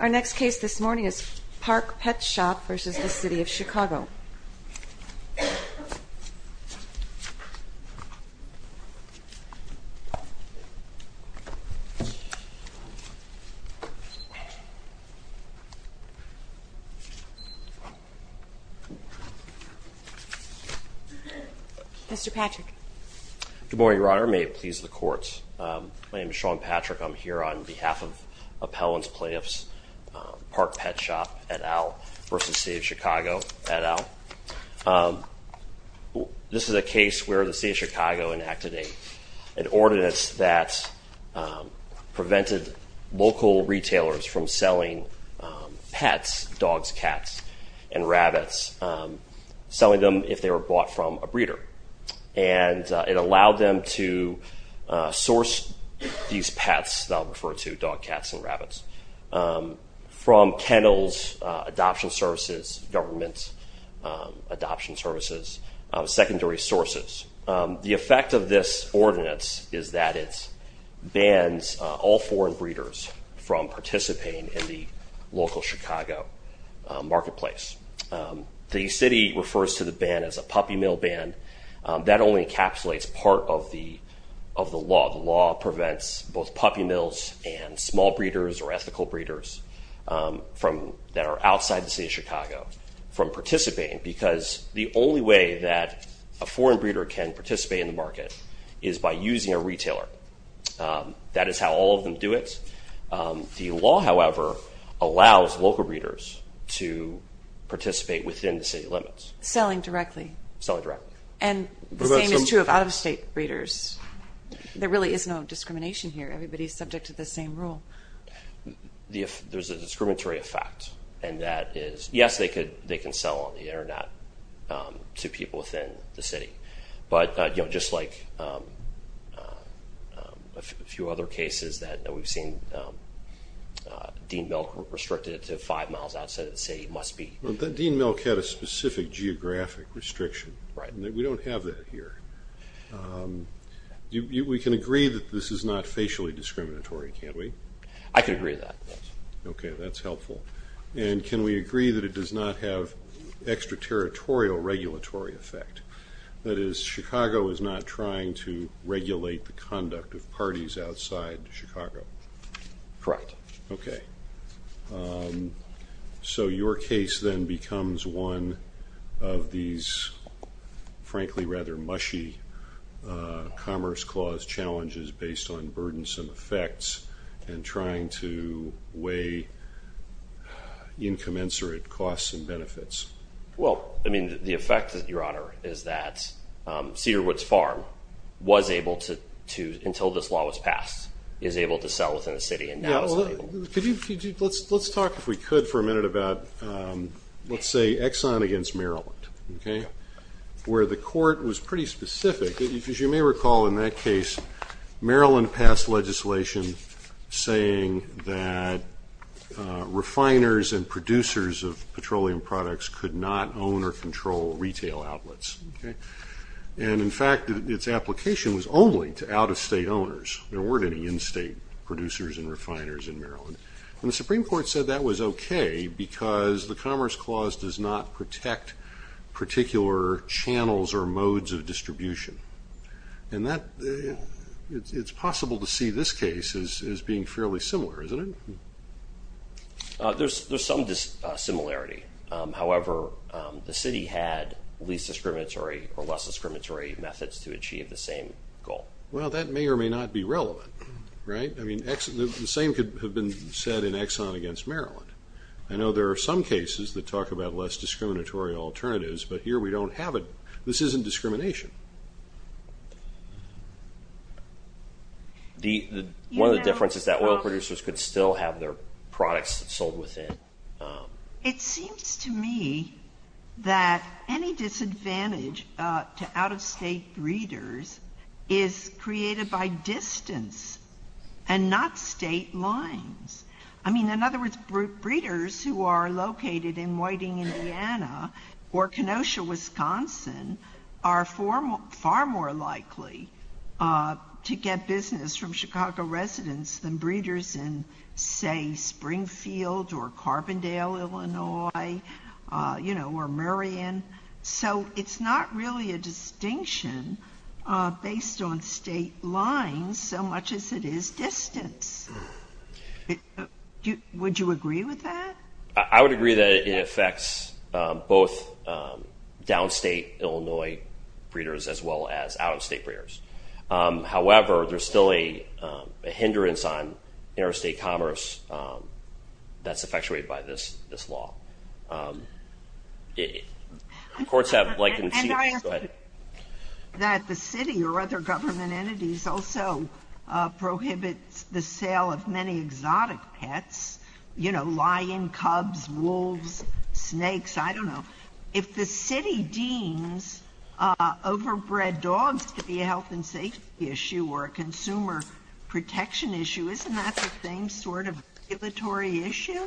Our next case this morning is Park Pet Shop v. City of Chicago Mr. Patrick Good morning, Your Honor. May it please the Court. My name is Sean Patrick. I'm here on behalf of Appellant's Plaintiffs, Park Pet Shop, et al. v. City of Chicago, et al. This is a case where the City of Chicago enacted an ordinance that prevented local retailers from selling pets, dogs, cats, and rabbits, selling them if they were bought from a breeder. And it allowed them to source these pets, that I'll refer to, dogs, cats, and rabbits, from kennels, adoption services, government adoption services, secondary sources. The effect of this ordinance is that it bans all foreign breeders from participating in the local Chicago marketplace. The City refers to the ban as a puppy mill ban. That only encapsulates part of the law. The law prevents both puppy mills and small breeders or ethical breeders that are outside the City of Chicago from participating because the only way that a foreign breeder can participate in the market is by using a retailer. That is how all of them do it. The law, however, allows local breeders to participate within the City limits. Selling directly. Selling directly. And the same is true of out-of-state breeders. There really is no discrimination here. Everybody is subject to the same rule. There's a discriminatory effect, and that is, yes, they can sell on the Internet to people within the City. But just like a few other cases that we've seen, Dean Milk restricted it to five miles outside of the City. It must be. Dean Milk had a specific geographic restriction. We don't have that here. We can agree that this is not facially discriminatory, can't we? I can agree to that. Okay, that's helpful. And can we agree that it does not have extraterritorial regulatory effect? That is, Chicago is not trying to regulate the conduct of parties outside Chicago. Correct. Okay. So your case then becomes one of these, frankly, rather mushy Commerce Clause challenges based on burdensome effects and trying to weigh incommensurate costs and benefits. Well, I mean, the effect, Your Honor, is that Cedar Woods Farm was able to, until this law was passed, is able to sell within the City. Let's talk, if we could, for a minute about, let's say, Exxon against Maryland, where the court was pretty specific. As you may recall in that case, Maryland passed legislation saying that refiners and producers of petroleum products could not own or control retail outlets. And, in fact, its application was only to out-of-state owners. There weren't any in-state producers and refiners in Maryland. And the Supreme Court said that was okay because the Commerce Clause does not protect particular channels or modes of distribution. And it's possible to see this case as being fairly similar, isn't it? There's some similarity. However, the City had least discriminatory or less discriminatory methods to achieve the same goal. Well, that may or may not be relevant, right? I mean, the same could have been said in Exxon against Maryland. I know there are some cases that talk about less discriminatory alternatives, but here we don't have it. This isn't discrimination. One of the differences is that oil producers could still have their products sold within. It seems to me that any disadvantage to out-of-state breeders is created by distance and not state lines. I mean, in other words, breeders who are located in Whiting, Indiana or Kenosha, Wisconsin, are far more likely to get business from Chicago residents than breeders in, say, Springfield or Carbondale, Illinois, you know, or Marion. So it's not really a distinction based on state lines so much as it is distance. Would you agree with that? I would agree that it affects both downstate Illinois breeders as well as out-of-state breeders. However, there's still a hindrance on interstate commerce that's effectuated by this law. Courts have likened it to... And I heard that the city or other government entities also prohibit the sale of many exotic pets, you know, lion, cubs, wolves, snakes, I don't know. If the city deems overbred dogs to be a health and safety issue or a consumer protection issue, isn't that the same sort of regulatory issue?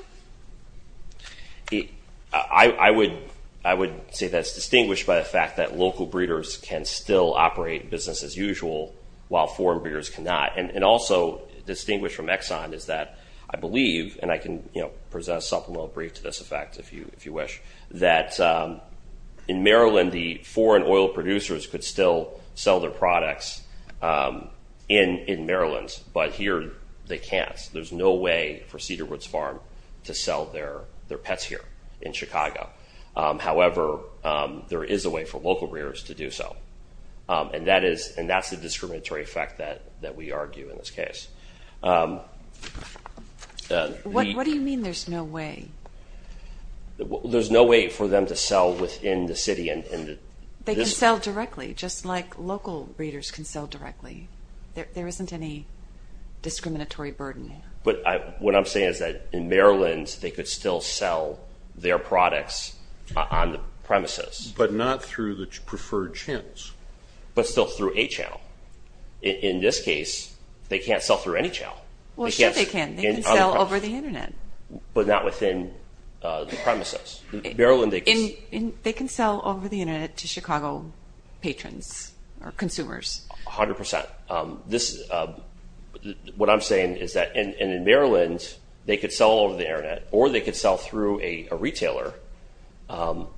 I would say that's distinguished by the fact that local breeders can still operate business as usual while foreign breeders cannot. And also distinguished from Exxon is that I believe, and I can present a supplemental brief to this effect if you wish, that in Maryland the foreign oil producers could still sell their products in Maryland, but here they can't. There's no way for Cedar Woods Farm to sell their pets here in Chicago. However, there is a way for local breeders to do so, and that's the discriminatory effect that we argue in this case. What do you mean there's no way? There's no way for them to sell within the city. They can sell directly, just like local breeders can sell directly. There isn't any discriminatory burden. But what I'm saying is that in Maryland they could still sell their products on the premises. But not through the preferred channels. But still through a channel. In this case, they can't sell through any channel. Well, sure they can. They can sell over the Internet. But not within the premises. They can sell over the Internet to Chicago patrons or consumers. A hundred percent. What I'm saying is that in Maryland they could sell over the Internet or they could sell through a retailer.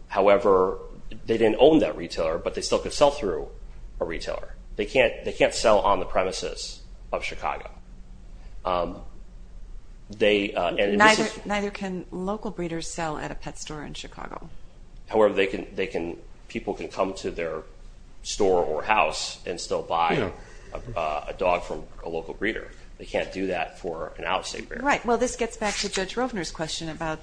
However, they didn't own that retailer, but they still could sell through a retailer. They can't sell on the premises of Chicago. Neither can local breeders sell at a pet store in Chicago. However, people can come to their store or house and still buy a dog from a local breeder. They can't do that for an out-of-state breeder. Right. Well, this gets back to Judge Rovner's question about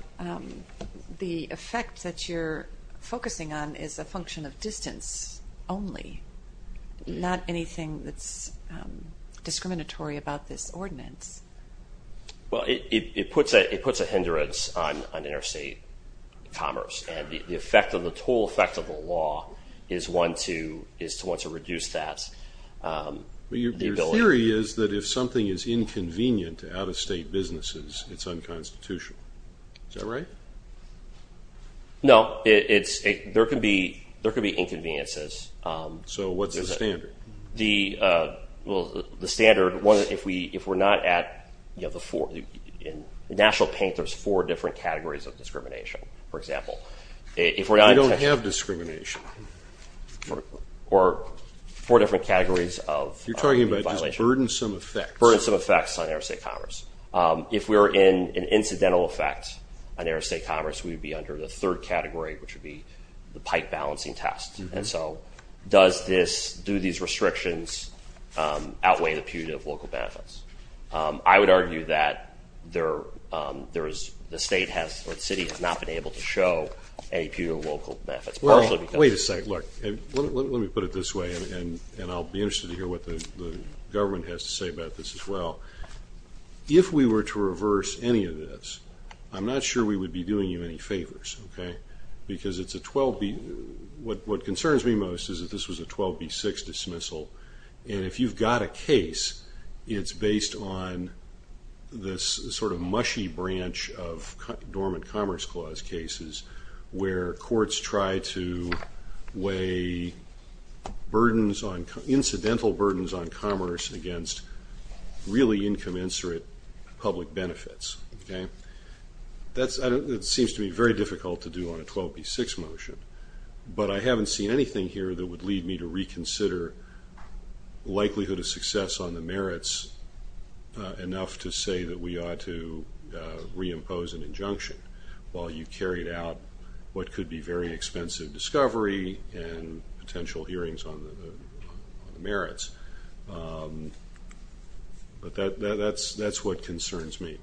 the effect that you're focusing on is a function of distance only, Well, it puts a hindrance on interstate commerce. And the effect of the toll effect of the law is one to reduce that. Your theory is that if something is inconvenient to out-of-state businesses, it's unconstitutional. Is that right? No. There could be inconveniences. So what's the standard? Well, the standard, if we're not at the four, in national paint, there's four different categories of discrimination. For example, if we're not in attention We don't have discrimination. Or four different categories of You're talking about just burdensome effects. Burdensome effects on interstate commerce. If we're in an incidental effect on interstate commerce, we would be under the third category, which would be the pike balancing test. And so does this, do these restrictions outweigh the punitive local benefits? I would argue that the state has or the city has not been able to show any punitive local benefits. Well, wait a second. Look, let me put it this way, and I'll be interested to hear what the government has to say about this as well. If we were to reverse any of this, I'm not sure we would be doing you any favors, okay? Because it's a 12B, what concerns me most is that this was a 12B6 dismissal. And if you've got a case, it's based on this sort of mushy branch of dormant commerce clause cases, where courts try to weigh burdens on, incidental burdens on commerce against really incommensurate public benefits. That seems to be very difficult to do on a 12B6 motion, but I haven't seen anything here that would lead me to reconsider likelihood of success on the merits enough to say that we ought to reimpose an injunction, while you've carried out what could be very expensive discovery and potential hearings on the merits. But that's what concerns me.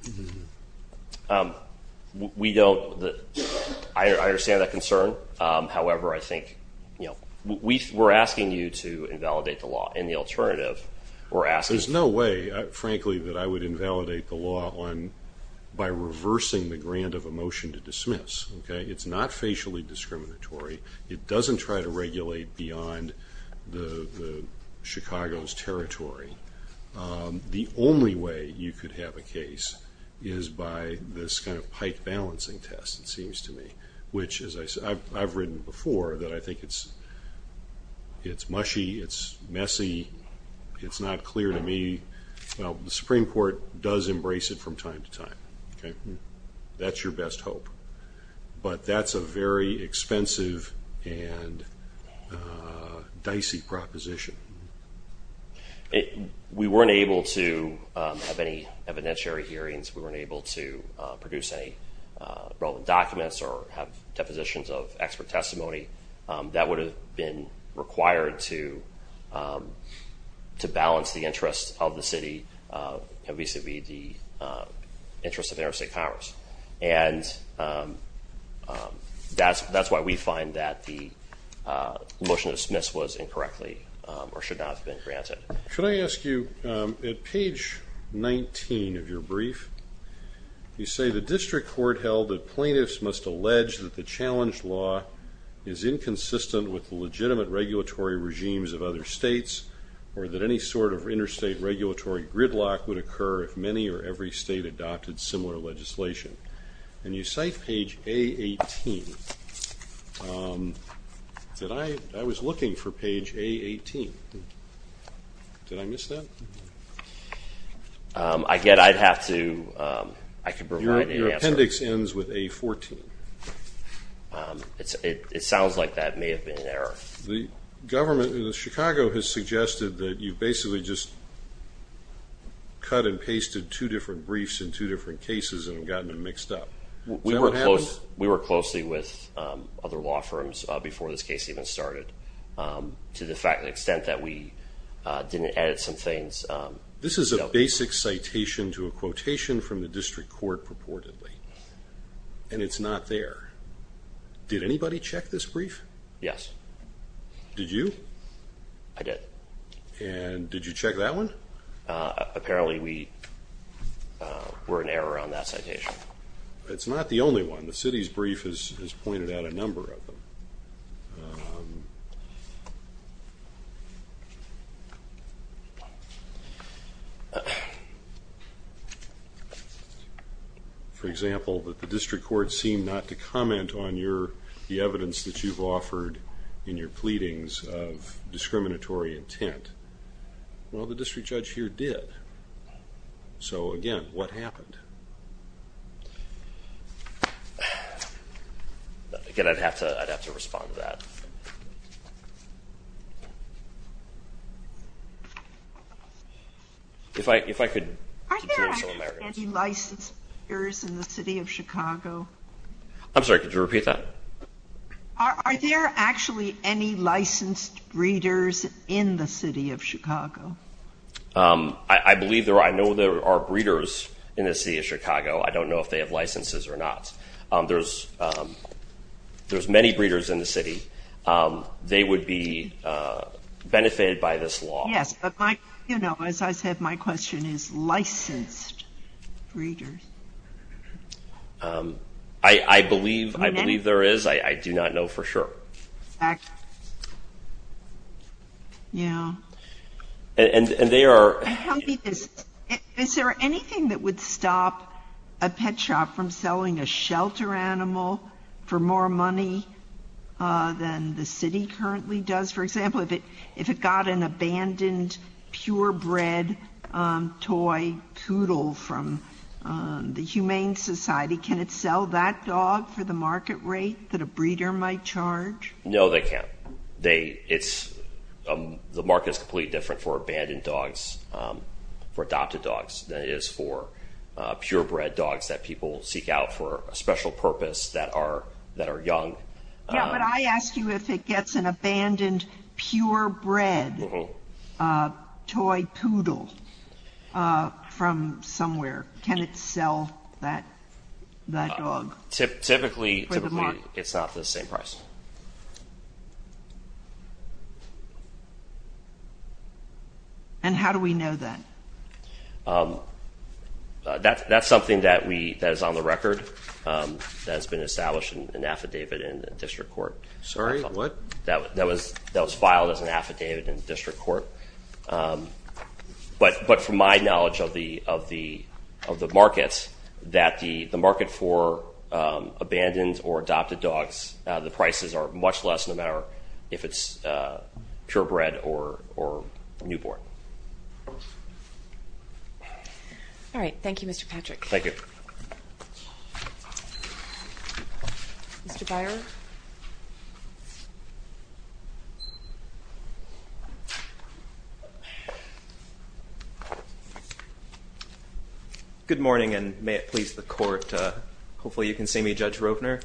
We don't – I understand that concern. However, I think, you know, we're asking you to invalidate the law, and the alternative, we're asking – There's no way, frankly, that I would invalidate the law by reversing the grant of a motion to dismiss, okay? It's not facially discriminatory. It doesn't try to regulate beyond Chicago's territory. The only way you could have a case is by this kind of pike balancing test, it seems to me, which, as I've written before, that I think it's mushy, it's messy, it's not clear to me. Well, the Supreme Court does embrace it from time to time, okay? That's your best hope. But that's a very expensive and dicey proposition. We weren't able to have any evidentiary hearings. We weren't able to produce any relevant documents or have depositions of expert testimony. That would have been required to balance the interests of the city vis-à-vis the interests of Interstate Congress. And that's why we find that the motion to dismiss was incorrectly or should not have been granted. Could I ask you, at page 19 of your brief, you say, The district court held that plaintiffs must allege that the challenged law is inconsistent with the legitimate regulatory regimes of other states or that any sort of interstate regulatory gridlock would occur if many or every state adopted similar legislation. When you cite page A18, I was looking for page A18. Did I miss that? I get I'd have to provide an answer. Your appendix ends with A14. It sounds like that may have been an error. The government in Chicago has suggested that you basically just cut and pasted two different briefs in two different cases and have gotten them mixed up. We were closely with other law firms before this case even started, to the extent that we didn't edit some things. This is a basic citation to a quotation from the district court purportedly. And it's not there. Did anybody check this brief? Yes. Did you? I did. And did you check that one? Apparently we were in error on that citation. It's not the only one. The city's brief has pointed out a number of them. For example, the district court seemed not to comment on the evidence that you've offered in your pleadings of discriminatory intent. Well, the district judge here did. So, again, what happened? Again, I'd have to respond to that. If I could continue. Are there any licensed readers in the city of Chicago? I'm sorry, could you repeat that? Are there actually any licensed readers in the city of Chicago? I believe there are. I know there are breeders in the city of Chicago. I don't know if they have licenses or not. There's many breeders in the city. They would be benefited by this law. Yes, but, you know, as I said, my question is licensed readers. I believe there is. I do not know for sure. Yeah. Is there anything that would stop a pet shop from selling a shelter animal for more money than the city currently does? For example, if it got an abandoned purebred toy poodle from the Humane Society, can it sell that dog for the market rate that a breeder might charge? No, they can't. The market is completely different for abandoned dogs, for adopted dogs, than it is for purebred dogs that people seek out for a special purpose that are young. Yeah, but I ask you if it gets an abandoned purebred toy poodle from somewhere, can it sell that dog for the market? Typically, it's not the same price. And how do we know that? That's something that is on the record, that has been established in an affidavit in the district court. Sorry, what? That was filed as an affidavit in the district court. But from my knowledge of the market, that the market for abandoned or adopted dogs, the prices are much less no matter if it's purebred or newborn. All right. Thank you, Mr. Patrick. Thank you. Mr. Byron. Good morning, and may it please the court, hopefully you can see me, Judge Rovner.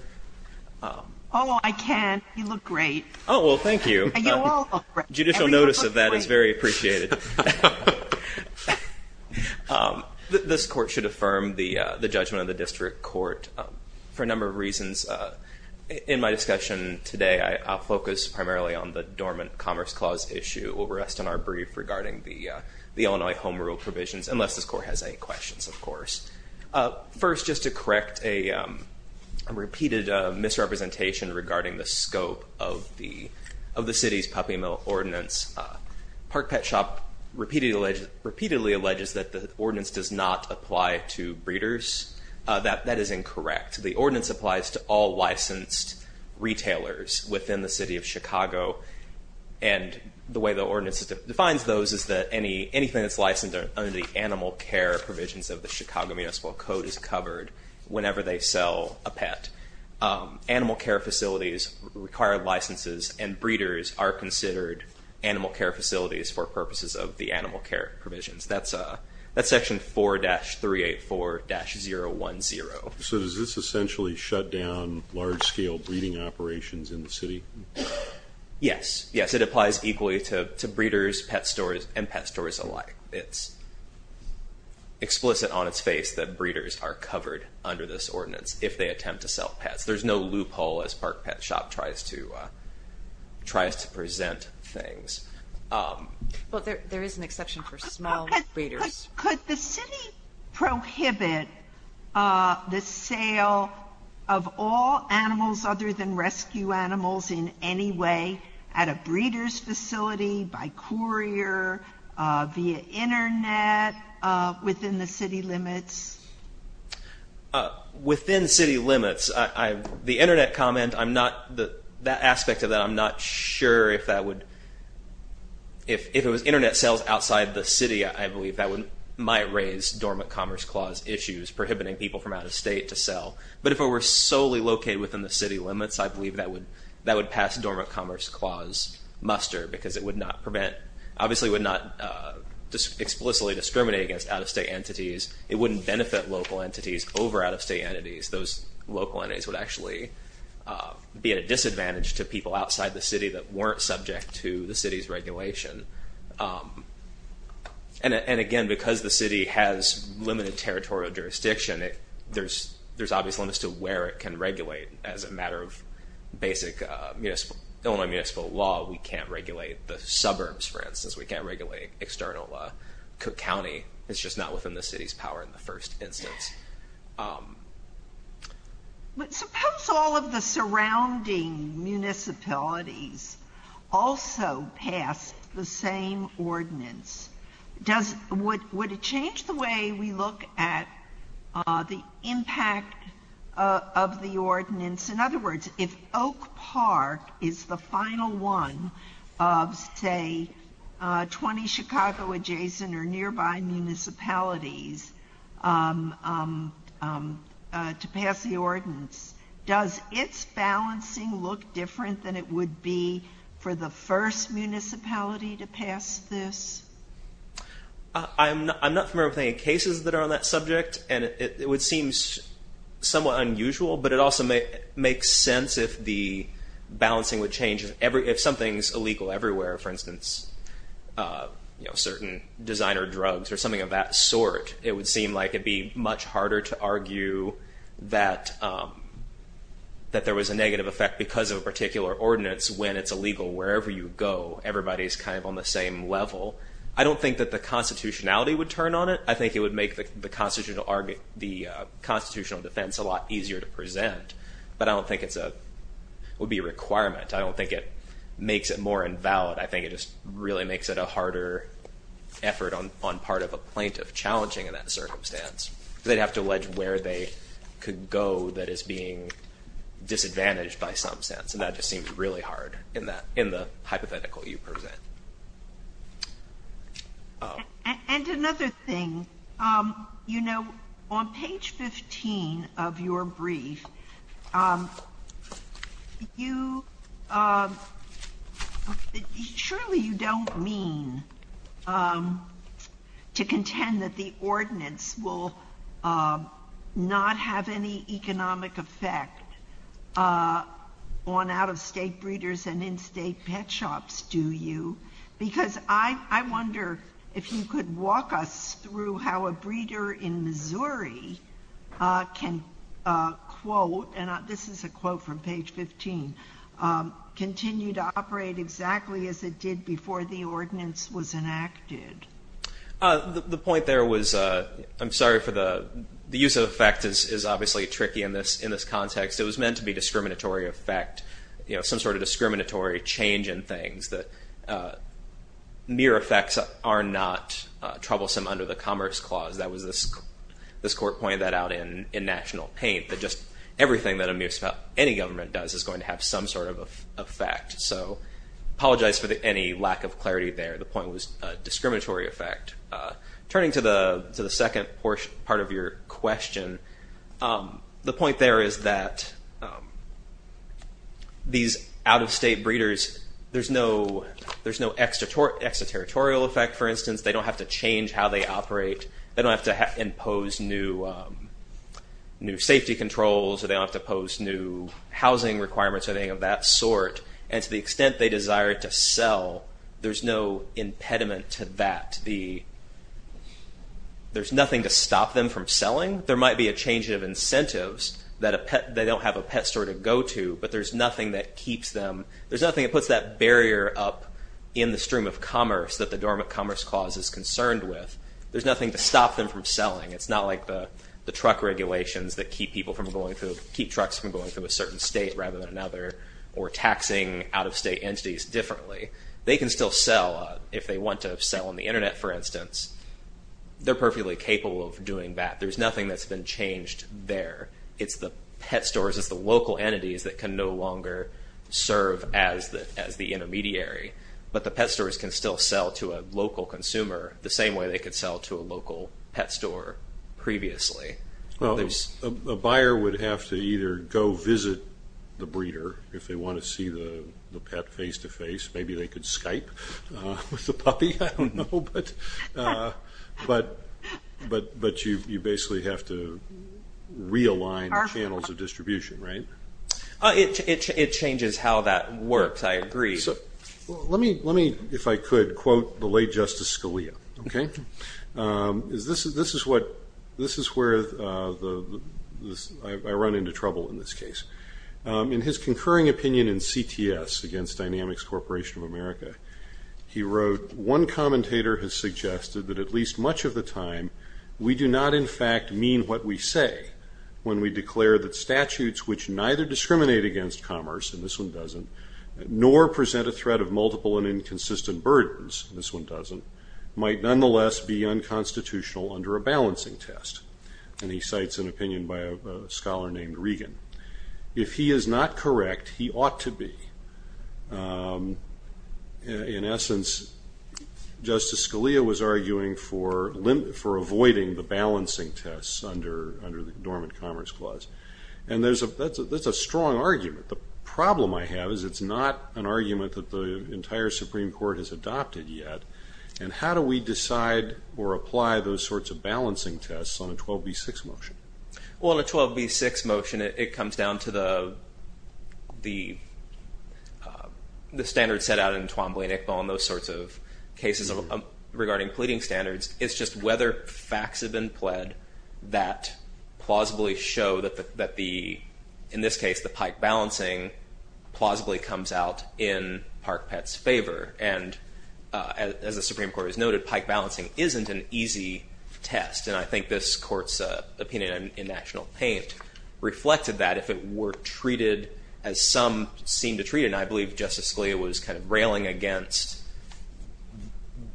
Oh, I can. You look great. Oh, well, thank you. You all look great. Judicial notice of that is very appreciated. This court should affirm the judgment of the district court for a number of reasons. In my discussion today, I'll focus primarily on the Dormant Commerce Clause issue. We'll rest on our brief regarding the Illinois Home Rule provisions, unless this court has any questions, of course. First, just to correct a repeated misrepresentation regarding the scope of the city's puppy mill ordinance. Park Pet Shop repeatedly alleges that the ordinance does not apply to breeders. That is incorrect. The ordinance applies to all licensed retailers within the city of Chicago, and the way the ordinance defines those is that anything that's licensed under the animal care provisions of the Chicago Municipal Code is covered whenever they sell a pet. Animal care facilities require licenses, and breeders are considered animal care facilities for purposes of the animal care provisions. That's section 4-384-010. So does this essentially shut down large-scale breeding operations in the city? Yes. Yes, it applies equally to breeders, pet stores, and pet stores alike. It's explicit on its face that breeders are covered under this ordinance if they attempt to sell pets. There's no loophole as Park Pet Shop tries to present things. Well, there is an exception for small breeders. Could the city prohibit the sale of all animals other than rescue animals in any way at a breeders' facility, by courier, via Internet, within the city limits? Within city limits. The Internet comment, I'm not, that aspect of that, I'm not sure if that would, if it was Internet sales outside the city, I believe that might raise Dormant Commerce Clause issues, prohibiting people from out of state to sell. But if it were solely located within the city limits, I believe that would pass Dormant Commerce Clause muster, because it would not prevent, obviously would not explicitly discriminate against out-of-state entities. It wouldn't benefit local entities over out-of-state entities. Those local entities would actually be at a disadvantage to people outside the city that weren't subject to the city's regulation. And again, because the city has limited territorial jurisdiction, there's obvious limits to where it can regulate. As a matter of basic Illinois municipal law, we can't regulate the suburbs, for instance. We can't regulate external Cook County. It's just not within the city's power in the first instance. But suppose all of the surrounding municipalities also pass the same ordinance. Does, would it change the way we look at the impact of the ordinance? In other words, if Oak Park is the final one of, say, 20 Chicago adjacent or nearby municipalities to pass the ordinance, does its balancing look different than it would be for the first municipality to pass this? I'm not familiar with any cases that are on that subject, and it would seem somewhat unusual, but it also makes sense if the balancing would change. If something's illegal everywhere, for instance, certain designer drugs or something of that sort, it would seem like it'd be much harder to argue that there was a negative effect because of a particular ordinance when it's illegal. Wherever you go, everybody's kind of on the same level. I don't think that the constitutionality would turn on it. I think it would make the constitutional defense a lot easier to present, but I don't think it would be a requirement. I don't think it makes it more invalid. I think it just really makes it a harder effort on part of a plaintiff challenging in that circumstance. They'd have to allege where they could go that is being disadvantaged by some sense, and that just seems really hard in the hypothetical you present. And another thing, you know, on page 15 of your brief, surely you don't mean to contend that the ordinance will not have any economic effect on out-of-state breeders and in-state pet shops, do you? Because I wonder if you could walk us through how a breeder in Missouri can, quote, and this is a quote from page 15, continue to operate exactly as it did before the ordinance was enacted. The point there was, I'm sorry for the use of effect is obviously tricky in this context. It was meant to be discriminatory effect, you know, some sort of discriminatory change in things, that mere effects are not troublesome under the Commerce Clause. That was this court pointed that out in National Paint, that just everything that a mere effect any government does is going to have some sort of effect. So I apologize for any lack of clarity there. The point was discriminatory effect. Turning to the second part of your question, the point there is that these out-of-state breeders, there's no extraterritorial effect, for instance. They don't have to change how they operate. They don't have to impose new safety controls. They don't have to impose new housing requirements or anything of that sort. And to the extent they desire to sell, there's no impediment to that. There's nothing to stop them from selling. There might be a change of incentives that they don't have a pet store to go to, but there's nothing that keeps them, there's nothing that puts that barrier up in the stream of commerce that the Dormant Commerce Clause is concerned with. There's nothing to stop them from selling. It's not like the truck regulations that keep people from going through, keep trucks from going through a certain state rather than another or taxing out-of-state entities differently. They can still sell if they want to sell on the Internet, for instance. They're perfectly capable of doing that. There's nothing that's been changed there. It's the pet stores, it's the local entities that can no longer serve as the intermediary. But the pet stores can still sell to a local consumer the same way they could sell to a local pet store previously. A buyer would have to either go visit the breeder if they want to see the pet face-to-face. Maybe they could Skype with the puppy. I don't know, but you basically have to realign the channels of distribution, right? It changes how that works. I agree. Let me, if I could, quote the late Justice Scalia. Okay? This is where I run into trouble in this case. In his concurring opinion in CTS against Dynamics Corporation of America, he wrote, one commentator has suggested that at least much of the time we do not, in fact, mean what we say when we declare that statutes which neither discriminate against commerce, and this one doesn't, nor present a threat of multiple and inconsistent burdens, this one doesn't, might nonetheless be unconstitutional under a balancing test. And he cites an opinion by a scholar named Regan. If he is not correct, he ought to be. In essence, Justice Scalia was arguing for avoiding the balancing tests under the Dormant Commerce Clause. And that's a strong argument. The problem I have is it's not an argument that the entire Supreme Court has adopted yet. And how do we decide or apply those sorts of balancing tests on a 12b-6 motion? Well, on a 12b-6 motion, it comes down to the standards set out in Twombly and Iqbal and those sorts of cases regarding pleading standards. It's just whether facts have been pled that plausibly show that the, in this case, the Pike balancing plausibly comes out in Park Pett's favor. And as the Supreme Court has noted, Pike balancing isn't an easy test. And I think this Court's opinion in National Paint reflected that if it were treated as some seem to treat it, and I believe Justice Scalia was kind of railing against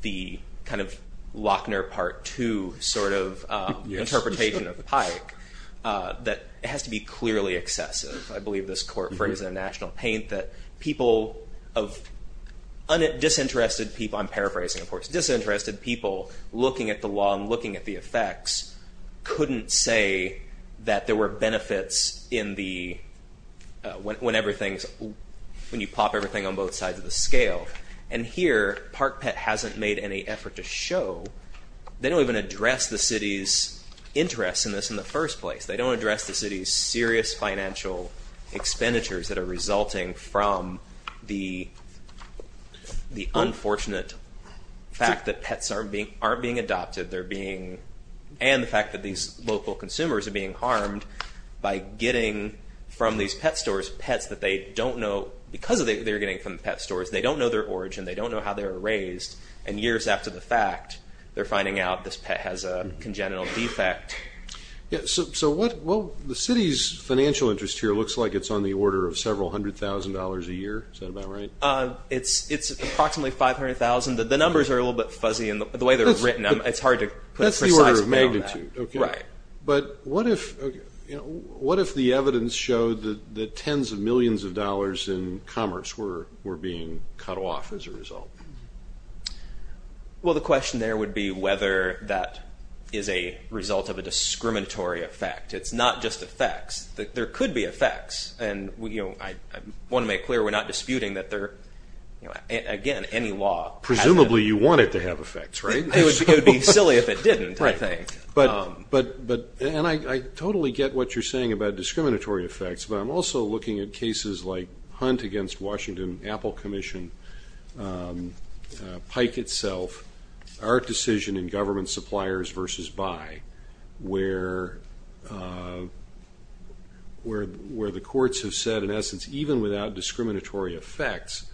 the kind of Lochner Part II sort of interpretation of the Pike, that it has to be clearly excessive. I believe this Court phrased in National Paint that people of disinterested people, I'm paraphrasing of course, disinterested people looking at the law and looking at the effects, couldn't say that there were benefits in the, when everything's, when you pop everything on both sides of the scale. And here, Park Pett hasn't made any effort to show. They don't even address the city's interests in this in the first place. They don't address the city's serious financial expenditures that are resulting from the unfortunate fact that pets aren't being adopted. They're being, and the fact that these local consumers are being harmed by getting from these pet stores, pets that they don't know, because they're getting from pet stores, they don't know their origin. They don't know how they were raised. And years after the fact, they're finding out this pet has a congenital defect. So what, well, the city's financial interest here looks like it's on the order of several hundred thousand dollars a year. Is that about right? It's approximately 500,000. The numbers are a little bit fuzzy in the way they're written. It's hard to put a precise number on that. That's the order of magnitude. Right. But what if the evidence showed that tens of millions of dollars in commerce were being cut off as a result? Well, the question there would be whether that is a result of a discriminatory effect. It's not just effects. There could be effects, and I want to make clear we're not disputing that there are, again, any law. Presumably you want it to have effects, right? It would be silly if it didn't, I think. And I totally get what you're saying about discriminatory effects, but I'm also looking at cases like Hunt against Washington, Apple Commission, Pike itself, our decision in government suppliers versus buy, where the courts have said, in essence, even without discriminatory effects,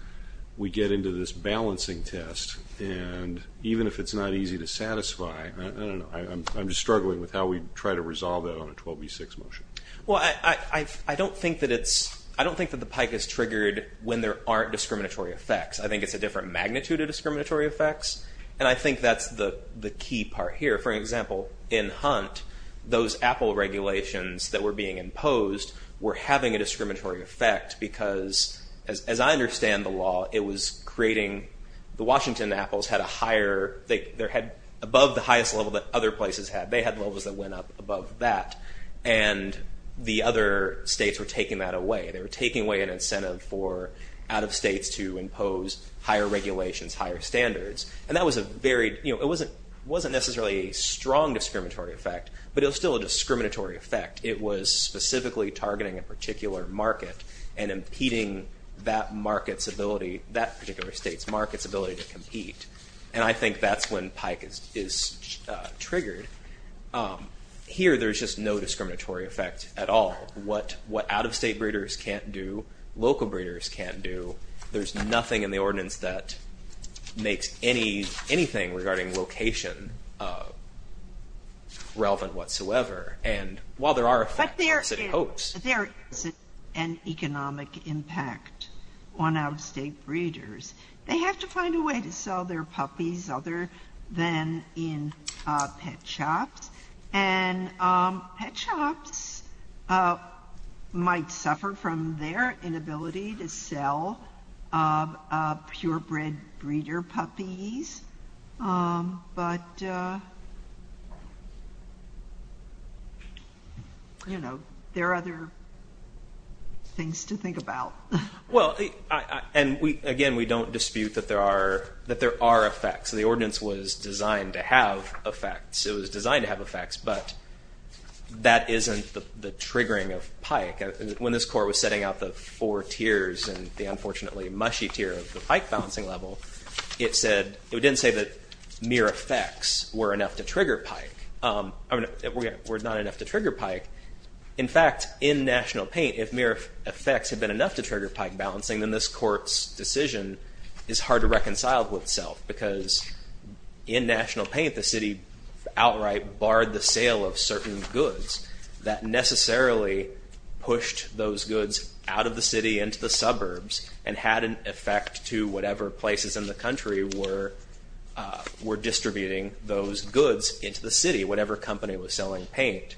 we get into this balancing test, and even if it's not easy to satisfy, I don't know, I'm just struggling with how we try to resolve that on a 12v6 motion. Well, I don't think that the Pike is triggered when there aren't discriminatory effects. I think it's a different magnitude of discriminatory effects, and I think that's the key part here. For example, in Hunt, those Apple regulations that were being imposed were having a discriminatory effect because, as I understand the law, it was creating, the Washington Apples had a higher, they had above the highest level that other places had. They had levels that went up above that, and the other states were taking that away. They were taking away an incentive for out-of-states to impose higher regulations, higher standards, and that was a very, you know, it wasn't necessarily a strong discriminatory effect, but it was still a discriminatory effect. It was specifically targeting a particular market and impeding that market's ability, that particular state's market's ability to compete, and I think that's when Pike is triggered. Here, there's just no discriminatory effect at all. What out-of-state breeders can't do, local breeders can't do. There's nothing in the ordinance that makes anything regarding location relevant whatsoever, and while there are effects, it's imposed. But there is an economic impact on out-of-state breeders. They have to find a way to sell their puppies other than in pet shops, and pet shops might suffer from their inability to sell purebred breeder puppies, but, you know, there are other things to think about. Well, and again, we don't dispute that there are effects. The ordinance was designed to have effects. It was designed to have effects, but that isn't the triggering of Pike. When this court was setting out the four tiers and the unfortunately mushy tier of the Pike balancing level, it didn't say that mere effects were enough to trigger Pike. I mean, were not enough to trigger Pike. In fact, in National Paint, if mere effects had been enough to trigger Pike balancing, then this court's decision is hard to reconcile with itself, because in National Paint, the city outright barred the sale of certain goods. That necessarily pushed those goods out of the city into the suburbs and had an effect to whatever places in the country were distributing those goods into the city. Whatever company was selling paint,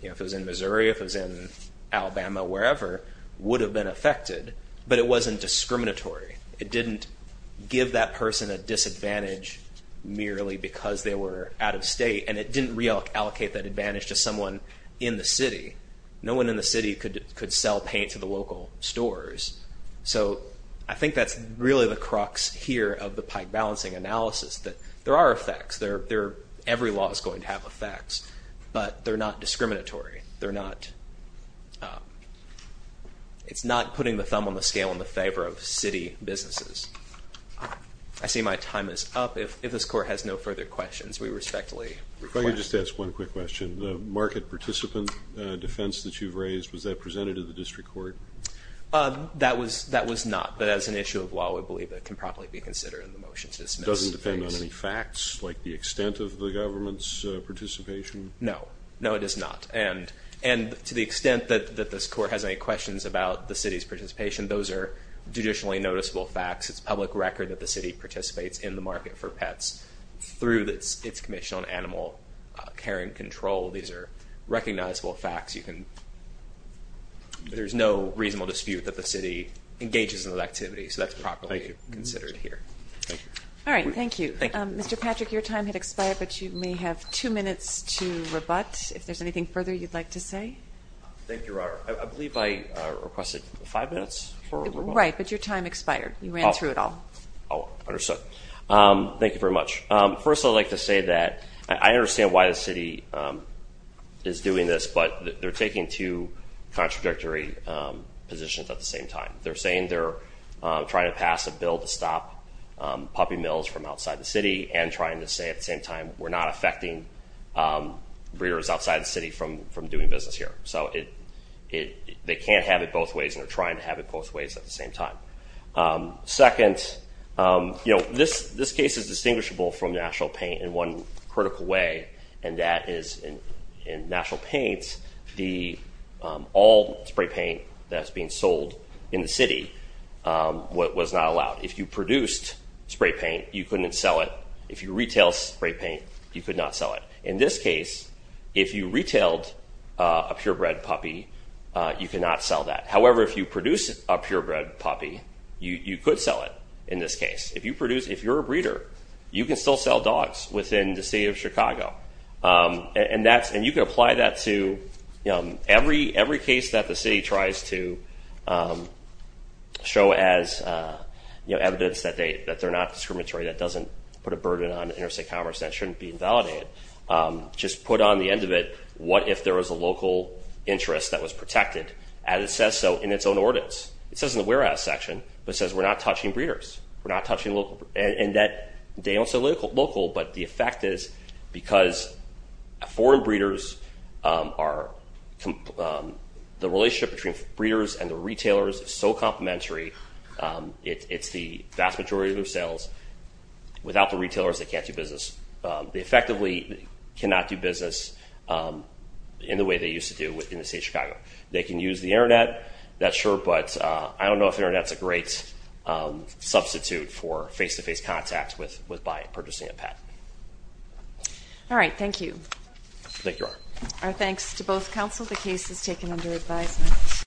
you know, if it was in Missouri, if it was in Alabama, wherever, would have been affected, but it wasn't discriminatory. It didn't give that person a disadvantage merely because they were out-of-state, and it didn't reallocate that advantage to someone in the city. No one in the city could sell paint to the local stores. So I think that's really the crux here of the Pike balancing analysis, that there are effects. Every law is going to have effects, but they're not discriminatory. They're not, it's not putting the thumb on the scale in the favor of city businesses. I see my time is up. If this court has no further questions, we respectfully request. If I could just ask one quick question. The market participant defense that you've raised, was that presented to the district court? That was not, but as an issue of law, I believe that can probably be considered in the motion to dismiss. It doesn't depend on any facts, like the extent of the government's participation? No, no, it does not. And to the extent that this court has any questions about the city's participation, those are judicially noticeable facts. It's public record that the city participates in the market for pets through its commission on animal care and control. These are recognizable facts. There's no reasonable dispute that the city engages in that activity, so that's properly considered here. Thank you. All right, thank you. Mr. Patrick, your time had expired, but you may have two minutes to rebut. If there's anything further you'd like to say. Thank you, Your Honor. I believe I requested five minutes for a rebut. Right, but your time expired. You ran through it all. Oh, understood. Thank you very much. First, I'd like to say that I understand why the city is doing this, but they're taking two contradictory positions at the same time. They're saying they're trying to pass a bill to stop puppy mills from outside the city and trying to say at the same time we're not affecting breeders outside the city from doing business here. They can't have it both ways, and they're trying to have it both ways at the same time. Second, this case is distinguishable from national paint in one critical way, and that is in national paints, all spray paint that's being sold in the city was not allowed. If you produced spray paint, you couldn't sell it. If you retailed spray paint, you could not sell it. In this case, if you retailed a purebred puppy, you could not sell that. However, if you produced a purebred puppy, you could sell it in this case. If you're a breeder, you can still sell dogs within the city of Chicago, and you can apply that to every case that the city tries to show as evidence that they're not discriminatory, that doesn't put a burden on interstate commerce, and that shouldn't be invalidated. Just put on the end of it, what if there was a local interest that was protected? And it says so in its own ordinance. It says in the whereabouts section, but it says we're not touching breeders. We're not touching local. And they don't say local, but the effect is because foreign breeders are— the relationship between breeders and the retailers is so complementary, it's the vast majority of their sales. Without the retailers, they can't do business. They effectively cannot do business in the way they used to do within the city of Chicago. They can use the Internet, that's sure, but I don't know if the Internet's a great substitute for face-to-face contact by purchasing a pet. All right, thank you. Thank you. Our thanks to both counsel. The case is taken under advisement.